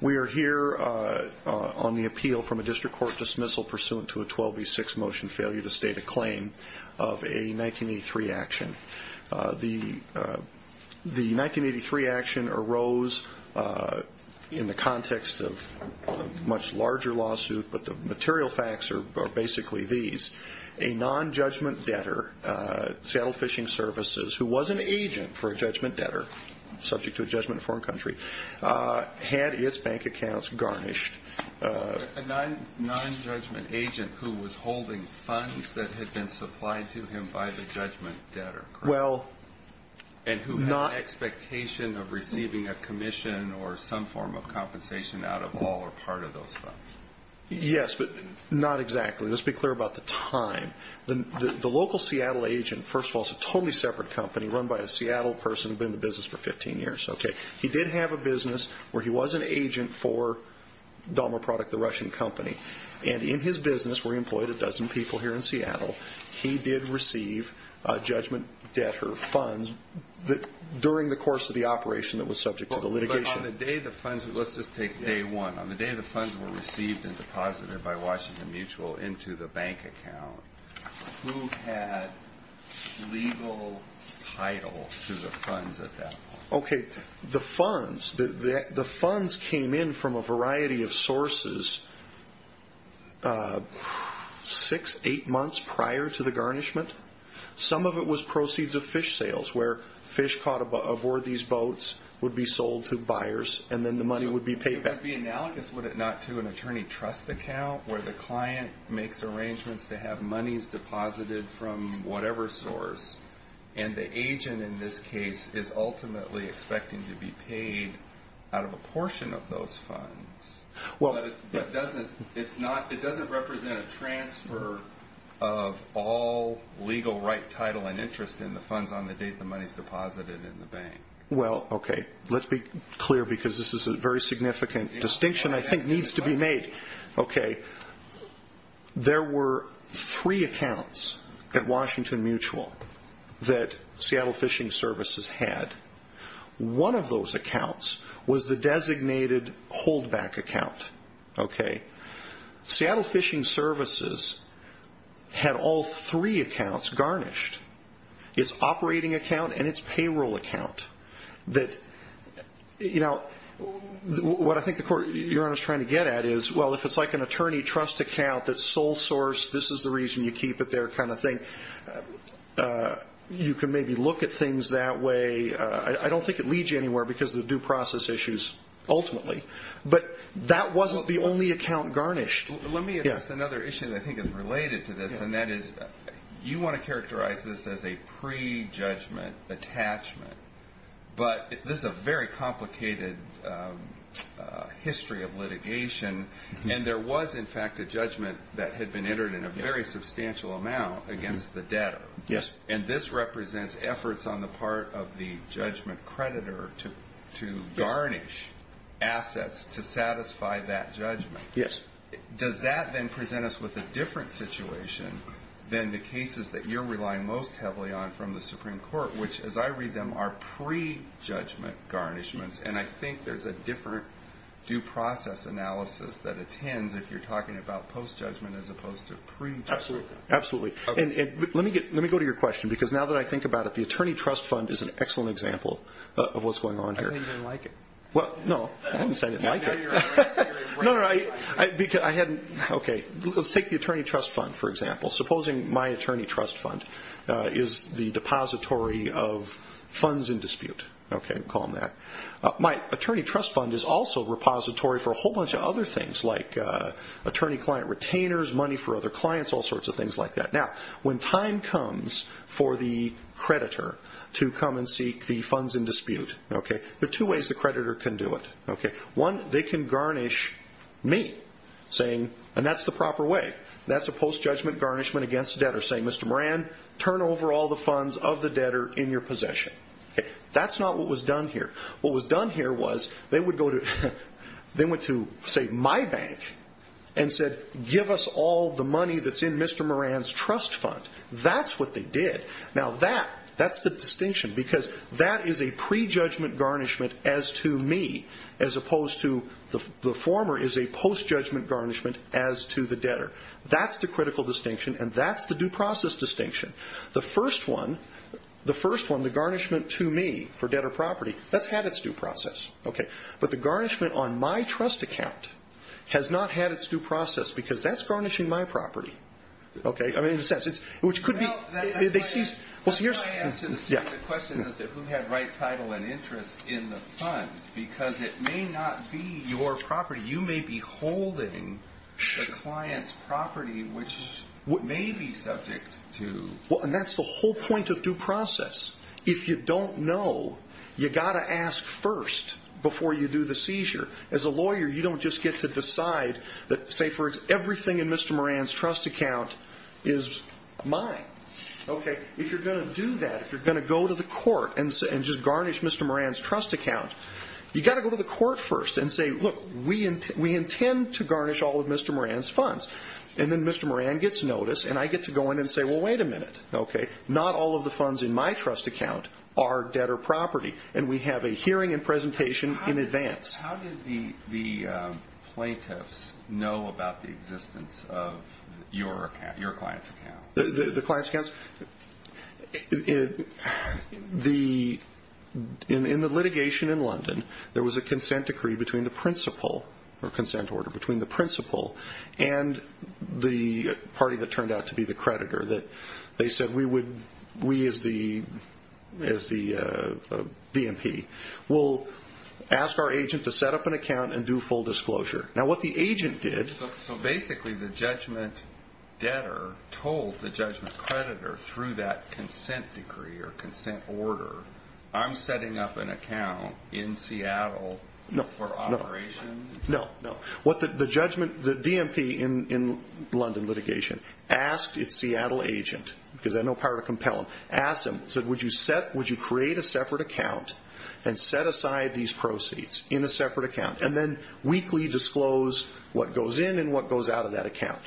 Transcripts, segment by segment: We are here on the appeal from a district court dismissal pursuant to a 12B6 motion failure to state a claim of a 1983 action. The 1983 action arose in the context of a much larger lawsuit but the material facts are basically these. A non-judgment debtor, Seattle Fishing Services, who was an agent for a judgment debtor, subject to a judgment in a foreign country, had its bank accounts garnished. A non-judgment agent who was holding funds that had been supplied to him by the judgment debtor, correct? And who had an expectation of receiving a commission or some form of compensation out of all or part of those funds. Yes, but not exactly. Let's be clear about the time. The local Seattle agent, first of all, is a totally separate company run by a Seattle person who had been in the business for 15 years. He did have a business where he was an agent for Dalma Product, the Russian company. And in his business, where he employed a dozen people here in Seattle, he did receive judgment debtor funds during the course of the operation that was subject to the litigation. Let's just take day one. On the day the funds were received and deposited by Washington Mutual into the bank account, who had legal title to the funds at that point? Okay, the funds came in from a variety of sources six, eight months prior to the garnishment. Some of it was proceeds of fish sales where fish caught aboard these boats would be sold to buyers and then the money would be paid back. It would be analogous, would it not, to an attorney trust account where the client makes arrangements to have monies deposited from whatever source? And the agent in this case is ultimately expecting to be paid out of a portion of those funds. It doesn't represent a transfer of all legal right title and interest in the funds on the date the money is deposited in the bank. Well, okay, let's be clear because this is a very significant distinction I think needs to be made. There were three accounts at Washington Mutual that Seattle Fishing Services had. One of those accounts was the designated holdback account. Seattle Fishing Services had all three accounts garnished, its operating account and its payroll account. What I think the Court, Your Honor, is trying to get at is, well, if it's like an attorney trust account that's sole source, this is the reason you keep it there kind of thing, you can maybe look at things that way. I don't think it leads you anywhere because of the due process issues ultimately. But that wasn't the only account garnished. Let me address another issue that I think is related to this, and that is you want to characterize this as a pre-judgment attachment. But this is a very complicated history of litigation, and there was, in fact, a judgment that had been entered in a very substantial amount against the debtor. Yes. And this represents efforts on the part of the judgment creditor to garnish assets to satisfy that judgment. Yes. Does that then present us with a different situation than the cases that you're relying most heavily on from the Supreme Court, which, as I read them, are pre-judgment garnishments? And I think there's a different due process analysis that attends if you're talking about post-judgment as opposed to pre-judgment. Absolutely. And let me go to your question because now that I think about it, the attorney trust fund is an excellent example of what's going on here. I thought you didn't like it. Well, no, I didn't say I didn't like it. No, no, I hadn't. Okay, let's take the attorney trust fund, for example. Supposing my attorney trust fund is the depository of funds in dispute. Okay, we'll call them that. My attorney trust fund is also a repository for a whole bunch of other things like attorney-client retainers, money for other clients, all sorts of things like that. Now, when time comes for the creditor to come and seek the funds in dispute, there are two ways the creditor can do it. One, they can garnish me, and that's the proper way. That's a post-judgment garnishment against the debtor saying, Mr. Moran, turn over all the funds of the debtor in your possession. That's not what was done here. What was done here was they went to, say, my bank and said, give us all the money that's in Mr. Moran's trust fund. That's what they did. Now, that's the distinction because that is a pre-judgment garnishment as to me as opposed to the former is a post-judgment garnishment as to the debtor. That's the critical distinction, and that's the due process distinction. The first one, the garnishment to me for debtor property, that's had its due process. But the garnishment on my trust account has not had its due process because that's garnishing my property. Okay? I mean, in a sense, it's – which could be – they seize – well, so here's – yeah. The question is who had right title and interest in the funds because it may not be your property. You may be holding the client's property, which may be subject to – Well, and that's the whole point of due process. If you don't know, you've got to ask first before you do the seizure. As a lawyer, you don't just get to decide that, say, for everything in Mr. Moran's trust account is mine. Okay? If you're going to do that, if you're going to go to the court and just garnish Mr. Moran's trust account, you've got to go to the court first and say, look, we intend to garnish all of Mr. Moran's funds. And then Mr. Moran gets notice, and I get to go in and say, well, wait a minute. Okay? Not all of the funds in my trust account are debtor property, and we have a hearing and presentation in advance. How did the plaintiffs know about the existence of your client's account? The client's account? In the litigation in London, there was a consent order between the principal and the party that turned out to be the creditor. They said we as the DMP will ask our agent to set up an account and do full disclosure. Now, what the agent did – So basically the judgment debtor told the judgment creditor through that consent decree or consent order, I'm setting up an account in Seattle for operation? No, no. The DMP in London litigation asked its Seattle agent, because they had no power to compel him, asked him, said, would you create a separate account and set aside these proceeds in a separate account and then weekly disclose what goes in and what goes out of that account?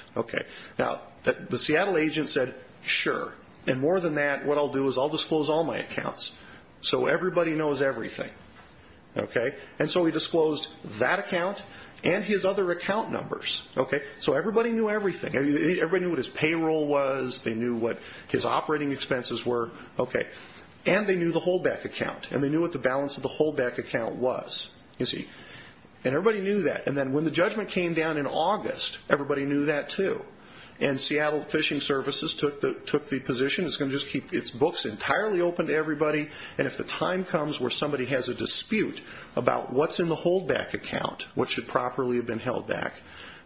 Now, the Seattle agent said, sure, and more than that, what I'll do is I'll disclose all my accounts so everybody knows everything. And so he disclosed that account and his other account numbers. So everybody knew everything. Everybody knew what his payroll was. They knew what his operating expenses were. And they knew the holdback account, and they knew what the balance of the holdback account was. And everybody knew that. And then when the judgment came down in August, everybody knew that too. And Seattle Fishing Services took the position, it's going to just keep its books entirely open to everybody, and if the time comes where somebody has a dispute about what's in the holdback account, what should properly have been held back,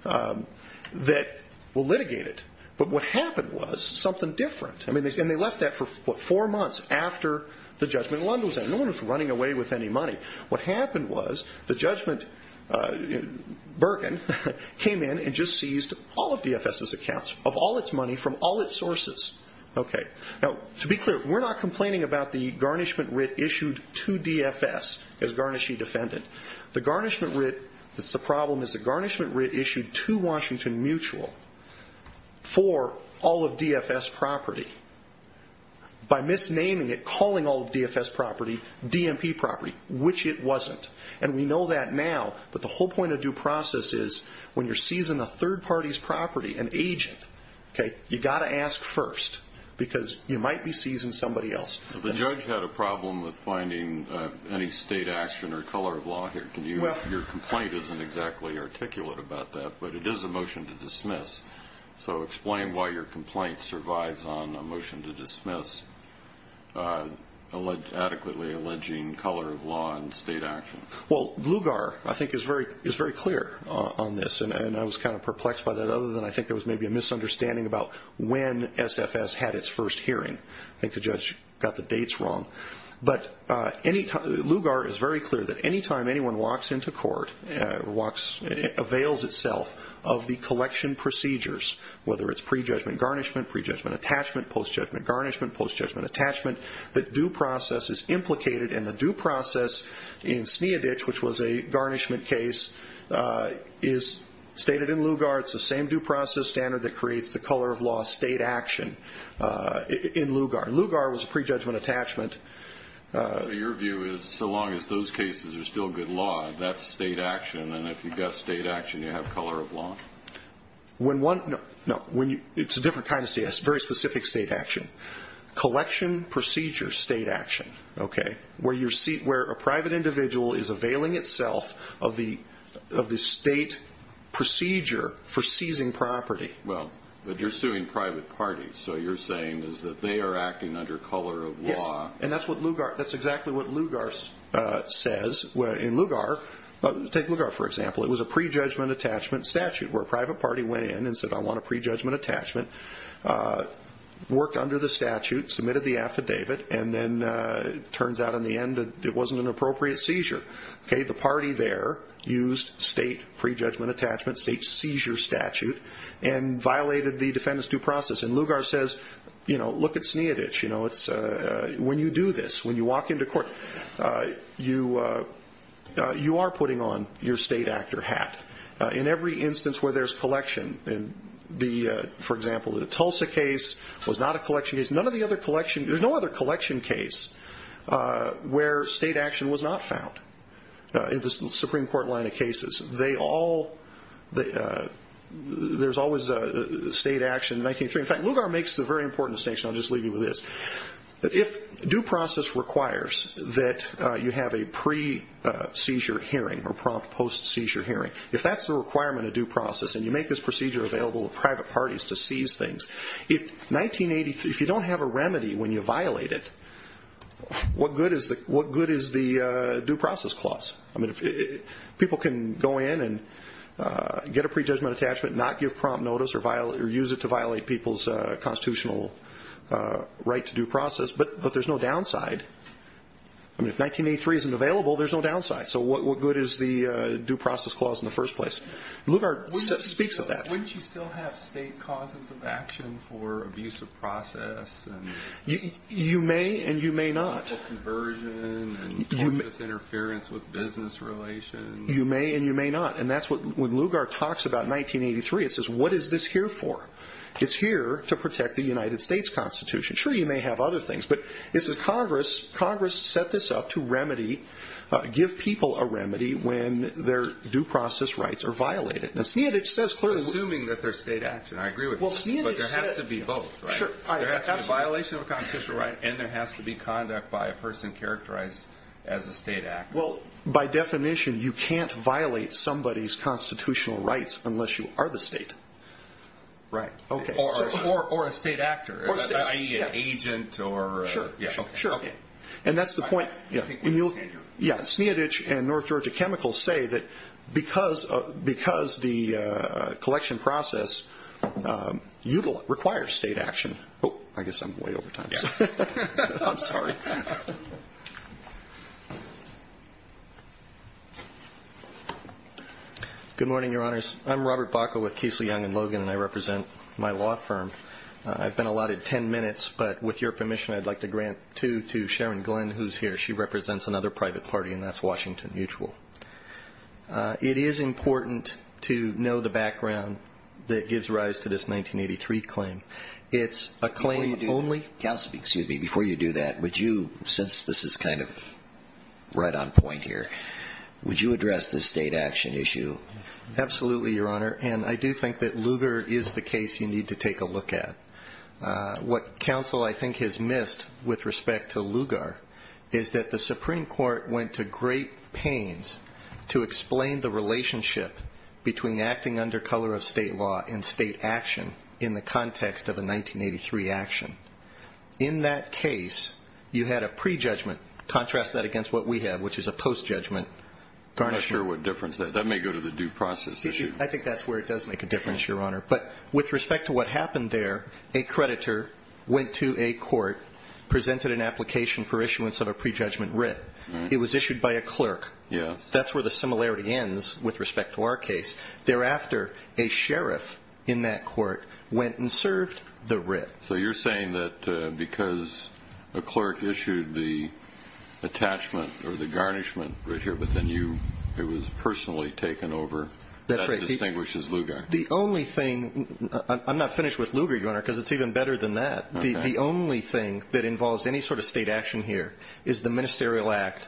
that we'll litigate it. But what happened was something different. And they left that for, what, four months after the judgment in London was in. No one was running away with any money. What happened was the judgment, Bergen, came in and just seized all of DFS's accounts of all its money from all its sources. Now, to be clear, we're not complaining about the garnishment writ issued to DFS as garnishee defendant. The problem is the garnishment writ issued to Washington Mutual for all of DFS property by misnaming it, calling all of DFS property DMP property, which it wasn't. And we know that now, but the whole point of due process is when you're seizing a third party's property, an agent, you've got to ask first because you might be seizing somebody else. The judge had a problem with finding any state action or color of law here. Your complaint isn't exactly articulate about that, but it is a motion to dismiss. So explain why your complaint survives on a motion to dismiss adequately alleging color of law and state action. Well, Blugar, I think, is very clear on this, and I was kind of perplexed by that, other than I think there was maybe a misunderstanding about when SFS had its first hearing. I think the judge got the dates wrong. But Blugar is very clear that any time anyone walks into court or avails itself of the collection procedures, whether it's pre-judgment garnishment, pre-judgment attachment, post-judgment garnishment, post-judgment attachment, the due process is implicated, and the due process in Sneadich, which was a garnishment case, is stated in Lugar. It's the same due process standard that creates the color of law state action in Lugar. Lugar was a pre-judgment attachment. So your view is so long as those cases are still good law, that's state action, and if you've got state action, you have color of law? No, it's a different kind of state action. It's very specific state action. Collection procedure state action, okay, where a private individual is availing itself of the state procedure for seizing property. Well, but you're suing private parties, so you're saying that they are acting under color of law. Yes, and that's exactly what Lugar says. In Lugar, take Lugar for example, it was a pre-judgment attachment statute, where a private party went in and said, I want a pre-judgment attachment, worked under the statute, submitted the affidavit, and then it turns out in the end that it wasn't an appropriate seizure. Okay, the party there used state pre-judgment attachment, state seizure statute, and violated the defendant's due process. And Lugar says, you know, look at Sneadich. When you do this, when you walk into court, you are putting on your state actor hat. In every instance where there's collection, for example, the Tulsa case was not a collection case. There's no other collection case where state action was not found in the Supreme Court line of cases. There's always state action in 1903. In fact, Lugar makes the very important distinction, I'll just leave you with this. If due process requires that you have a pre-seizure hearing or prompt post-seizure hearing, if that's the requirement of due process and you make this procedure available to private parties to seize things, if you don't have a remedy when you violate it, what good is the due process clause? I mean, people can go in and get a pre-judgment attachment, not give prompt notice or use it to violate people's constitutional right to due process, but there's no downside. I mean, if 1983 isn't available, there's no downside. So what good is the due process clause in the first place? Lugar speaks of that. Wouldn't you still have state causes of action for abuse of process? You may and you may not. For conversion and unjust interference with business relations. You may and you may not, and that's what Lugar talks about in 1983. It says, what is this here for? It's here to protect the United States Constitution. Sure, you may have other things, but it says Congress set this up to remedy, give people a remedy when their due process rights are violated. Assuming that they're state action. I agree with this, but there has to be both. There has to be a violation of a constitutional right, and there has to be conduct by a person characterized as a state actor. Well, by definition, you can't violate somebody's constitutional rights unless you are the state. Right. Or a state actor, i.e. an agent. Sure. And that's the point. Sneodich and North Georgia Chemicals say that because the collection process requires state action. I guess I'm way over time. I'm sorry. Good morning, Your Honors. I'm Robert Bacow with Casely Young & Logan, and I represent my law firm. I've been allotted ten minutes, but with your permission, I'd like to grant two to Sharon Glenn, who's here. She represents another private party, and that's Washington Mutual. It is important to know the background that gives rise to this 1983 claim. It's a claim only. Before you do that, would you, since this is kind of right on point here, would you address the state action issue? Absolutely, Your Honor, and I do think that Lugar is the case you need to take a look at. What counsel, I think, has missed with respect to Lugar is that the Supreme Court went to great pains to explain the relationship between acting under color of state law and state action in the context of a 1983 action. In that case, you had a pre-judgment. Contrast that against what we have, which is a post-judgment. I'm not sure what difference that makes. That may go to the due process issue. I think that's where it does make a difference, Your Honor. But with respect to what happened there, a creditor went to a court, presented an application for issuance of a pre-judgment writ. It was issued by a clerk. That's where the similarity ends with respect to our case. Thereafter, a sheriff in that court went and served the writ. So you're saying that because a clerk issued the attachment or the garnishment writ here, but then it was personally taken over, that distinguishes Lugar? The only thing – I'm not finished with Lugar, Your Honor, because it's even better than that. The only thing that involves any sort of state action here is the ministerial act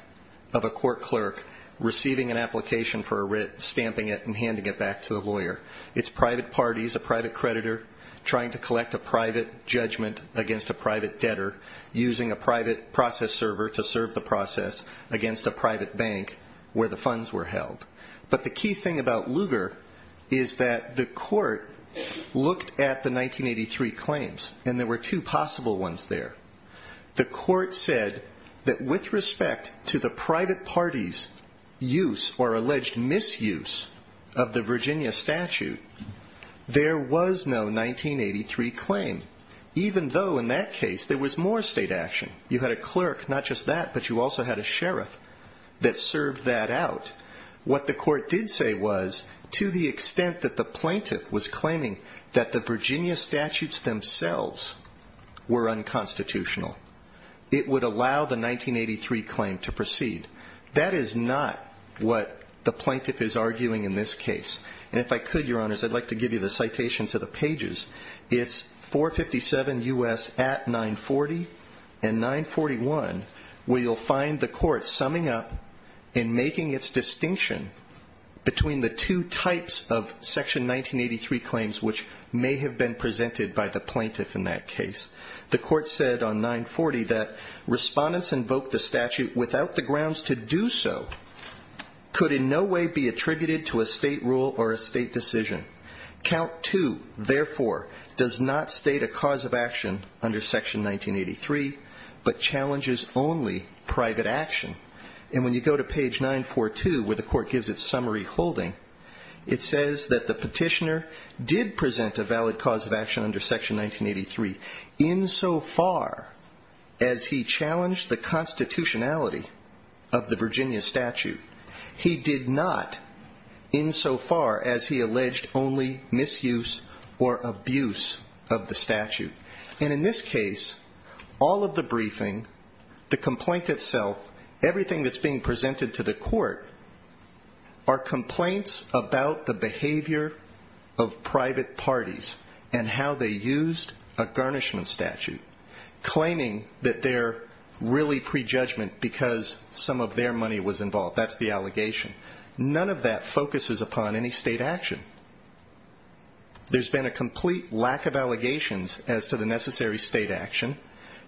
of a court clerk receiving an application for a writ, stamping it, and handing it back to the lawyer. It's private parties, a private creditor, trying to collect a private judgment against a private debtor, using a private process server to serve the process against a private bank where the funds were held. But the key thing about Lugar is that the court looked at the 1983 claims, and there were two possible ones there. The court said that with respect to the private party's use or alleged misuse of the Virginia statute, there was no 1983 claim, even though in that case there was more state action. You had a clerk, not just that, but you also had a sheriff that served that out. What the court did say was, to the extent that the plaintiff was claiming that the Virginia statutes themselves were unconstitutional, it would allow the 1983 claim to proceed. That is not what the plaintiff is arguing in this case. And if I could, Your Honors, I'd like to give you the citation to the pages. It's 457 U.S. at 940 and 941, where you'll find the court summing up and making its distinction between the two types of Section 1983 claims which may have been presented by the plaintiff in that case. The court said on 940 that respondents invoked the statute without the grounds to do so could in no way be attributed to a state rule or a state decision. Count 2, therefore, does not state a cause of action under Section 1983 but challenges only private action. And when you go to page 942, where the court gives its summary holding, it says that the petitioner did present a valid cause of action under Section 1983 insofar as he challenged the constitutionality of the Virginia statute. He did not insofar as he alleged only misuse or abuse of the statute. And in this case, all of the briefing, the complaint itself, everything that's being presented to the court, are complaints about the behavior of private parties and how they used a garnishment statute, claiming that they're really prejudgment because some of their money was involved. That's the allegation. None of that focuses upon any state action. There's been a complete lack of allegations as to the necessary state action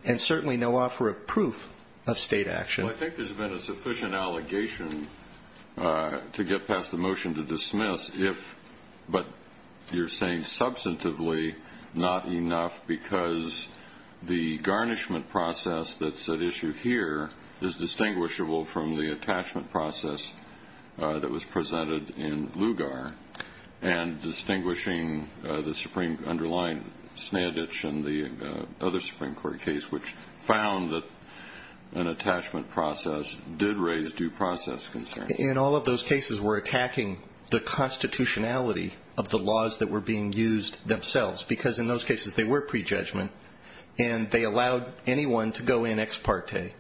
and certainly no offer of proof of state action. Well, I think there's been a sufficient allegation to get past the motion to dismiss if, but you're saying substantively not enough because the garnishment process that's at issue here is distinguishable from the attachment process that was presented in Lugar and distinguishing the Supreme underlying Snandich and the other Supreme Court case, which found that an attachment process did raise due process concerns. In all of those cases, we're attacking the constitutionality of the laws that were being used themselves because in those cases they were prejudgment and they allowed anyone to go in ex parte,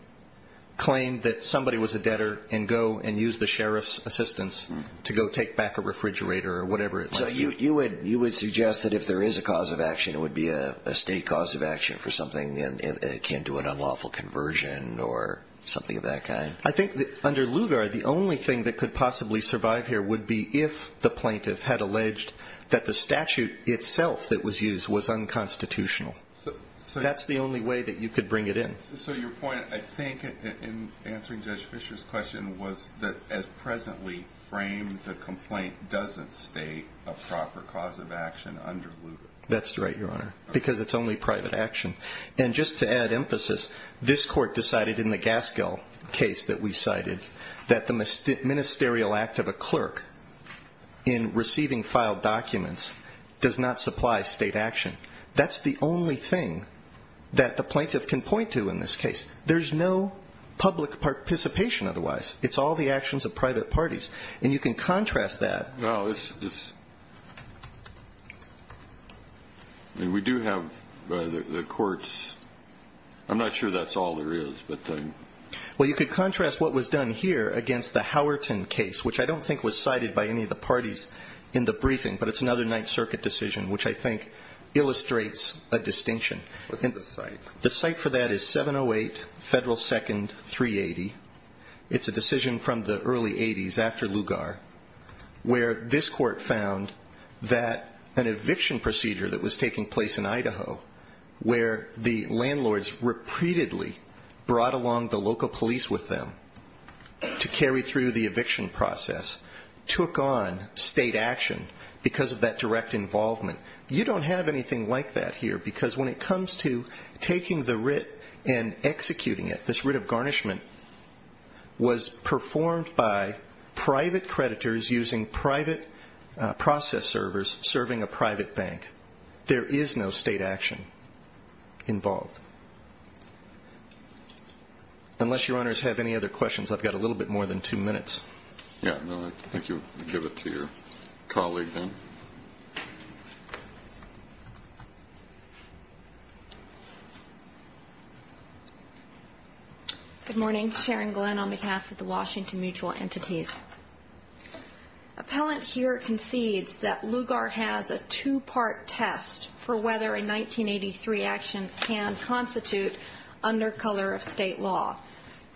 claim that somebody was a debtor and go and use the sheriff's assistance to go take back a refrigerator or whatever it might be. So you would suggest that if there is a cause of action, it would be a state cause of action for something akin to an unlawful conversion or something of that kind? I think that under Lugar, the only thing that could possibly survive here would be if the plaintiff had alleged that the statute itself that was used was unconstitutional. That's the only way that you could bring it in. So your point, I think, in answering Judge Fischer's question, was that as presently framed, the complaint doesn't state a proper cause of action under Lugar. That's right, Your Honor, because it's only private action. And just to add emphasis, this court decided in the Gaskell case that we cited that the ministerial act of a clerk in receiving filed documents does not supply state action. That's the only thing that the plaintiff can point to in this case. There's no public participation otherwise. It's all the actions of private parties. And you can contrast that. No. We do have the courts. I'm not sure that's all there is. Well, you could contrast what was done here against the Howerton case, which I don't think was cited by any of the parties in the briefing, but it's another Ninth Circuit decision which I think illustrates a distinction. What's in the site? The site for that is 708 Federal 2nd, 380. It's a decision from the early 80s after Lugar where this court found that an eviction procedure that was taking place in Idaho where the landlords repeatedly brought along the local police with them to carry through the eviction process took on state action because of that direct involvement. You don't have anything like that here because when it comes to taking the writ and executing it, this writ of garnishment was performed by private creditors using private process servers serving a private bank. There is no state action involved. Unless Your Honors have any other questions, I've got a little bit more than two minutes. I think you can give it to your colleague then. Good morning. Sharon Glenn on behalf of the Washington Mutual Entities. Appellant here concedes that Lugar has a two-part test for whether a 1983 action can constitute under color of state law.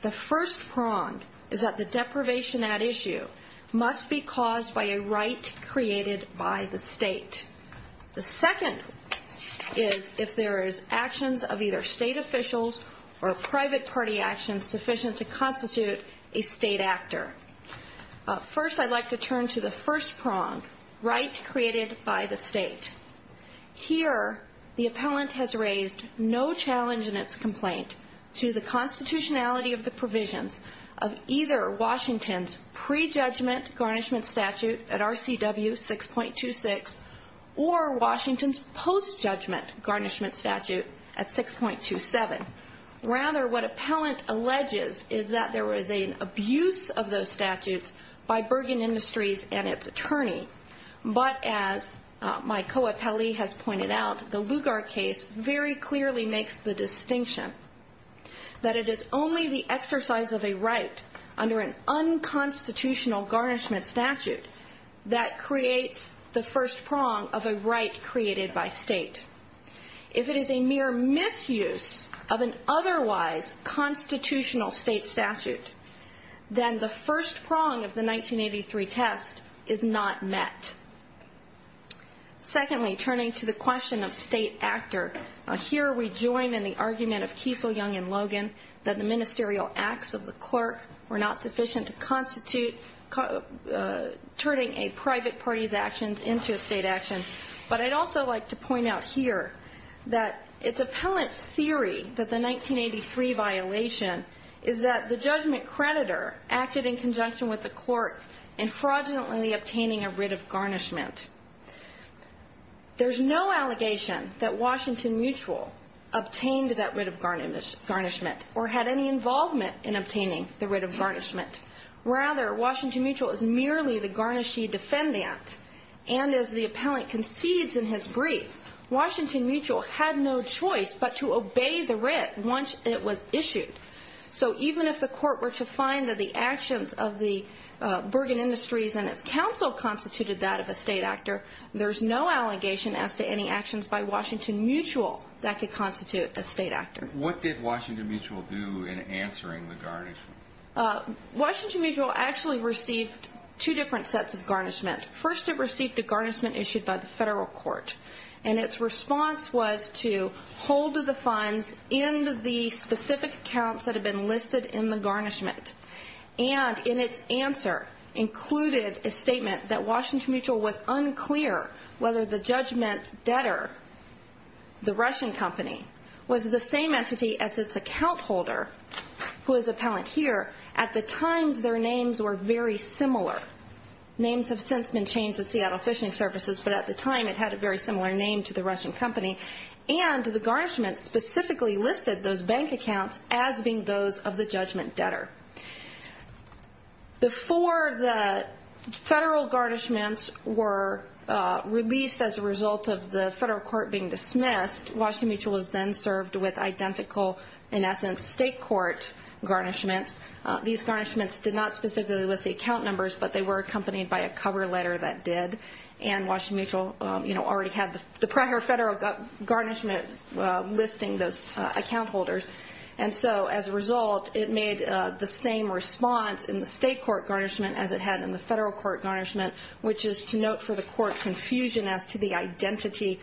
The first prong is that the deprivation at issue must be caused by a right created by the state. The second is if there is actions of either state officials or private party actions sufficient to constitute a state actor. First, I'd like to turn to the first prong, right created by the state. Here, the appellant has raised no challenge in its complaint to the constitutionality of the provisions of either Washington's pre-judgment garnishment statute at RCW 6.26 or Washington's post-judgment garnishment statute at 6.27. Rather, what appellant alleges is that there was an abuse of those statutes by Bergen Industries and its attorney. But as my co-appellee has pointed out, the Lugar case very clearly makes the distinction that it is only the exercise of a right under an unconstitutional garnishment statute that creates the first prong of a right created by state. If it is a mere misuse of an otherwise constitutional state statute, then the first prong of the 1983 test is not met. Secondly, turning to the question of state actor, here we join in the argument of Kiesel, Young, and Logan that the ministerial acts of the clerk were not sufficient to constitute turning a private party's actions into a state action. But I'd also like to point out here that it's appellant's theory that the 1983 violation is that the judgment creditor acted in conjunction with the clerk in fraudulently obtaining a writ of garnishment. There's no allegation that Washington Mutual obtained that writ of garnishment or had any involvement in obtaining the writ of garnishment. Rather, Washington Mutual is merely the garnishee defendant. And as the appellant concedes in his brief, Washington Mutual had no choice but to obey the writ once it was issued. So even if the court were to find that the actions of the Bergen Industries and its counsel constituted that of a state actor, there's no allegation as to any actions by Washington Mutual that could constitute a state actor. What did Washington Mutual do in answering the garnishment? Washington Mutual actually received two different sets of garnishment. First, it received a garnishment issued by the federal court. And its response was to hold the funds in the specific accounts that had been listed in the garnishment. And in its answer, included a statement that Washington Mutual was unclear whether the judgment debtor, the Russian company, was the same entity as its account holder, who is appellant here, at the times their names were very similar. Names have since been changed at Seattle Fishing Services, but at the time it had a very similar name to the Russian company. And the garnishment specifically listed those bank accounts as being those of the judgment debtor. Before the federal garnishments were released as a result of the federal court being dismissed, Washington Mutual was then served with identical, in essence, state court garnishments. These garnishments did not specifically list the account numbers, but they were accompanied by a cover letter that did. And Washington Mutual, you know, already had the prior federal garnishment listing those account holders. And so as a result, it made the same response in the state court garnishment as it had in the federal court garnishment, which is to note for the court confusion as to the identity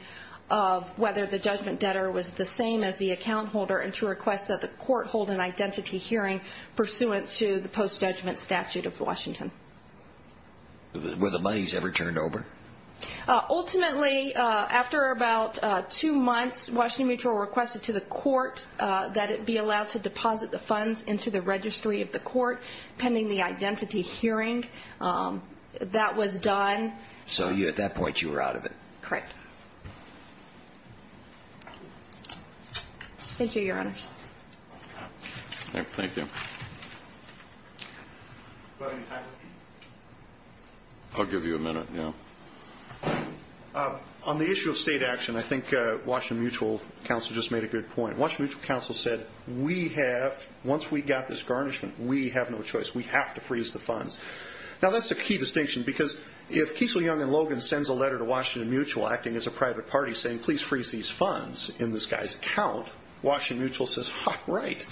of whether the judgment debtor was the same as the account holder and to request that the court hold an identity hearing pursuant to the post-judgment statute of Washington. Were the monies ever turned over? Ultimately, after about two months, Washington Mutual requested to the court that it be allowed to deposit the funds into the registry of the court pending the identity hearing. That was done. So at that point, you were out of it. Correct. Thank you, Your Honor. Thank you. I'll give you a minute. On the issue of state action, I think Washington Mutual counsel just made a good point. Washington Mutual counsel said, once we got this garnishment, we have no choice. We have to freeze the funds. Now, that's a key distinction because if Kiesel, Young, and Logan sends a letter to Washington Mutual acting as a private party saying, please freeze these funds in this guy's account, Washington Mutual says, ha, right.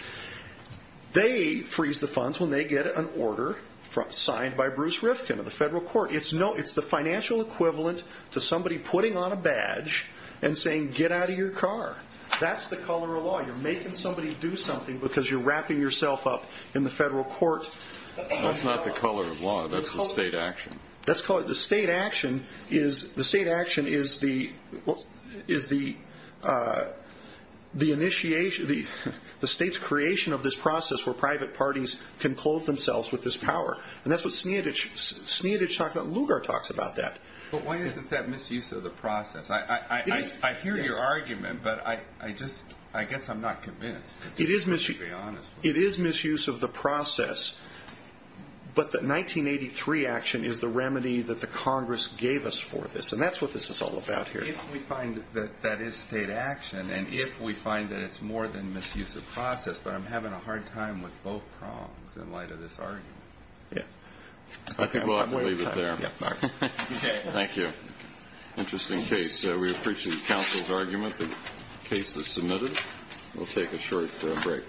They freeze the funds when they get an order signed by Bruce Rifkin of the federal court. It's the financial equivalent to somebody putting on a badge and saying, get out of your car. That's the color of law. You're making somebody do something because you're wrapping yourself up in the federal court. That's not the color of law. That's the state action. The state action is the state's creation of this process where private parties can clothe themselves with this power. And that's what Sneadich talked about and Lugar talks about that. But why isn't that misuse of the process? I hear your argument, but I just, I guess I'm not convinced, to be honest. It is misuse of the process, but the 1983 action is the remedy that the Congress gave us for this. And that's what this is all about here. If we find that that is state action and if we find that it's more than misuse of process, but I'm having a hard time with both prongs in light of this argument. I think we'll have to leave it there. Thank you. Interesting case. We appreciate counsel's argument. The case is submitted. We'll take a short break.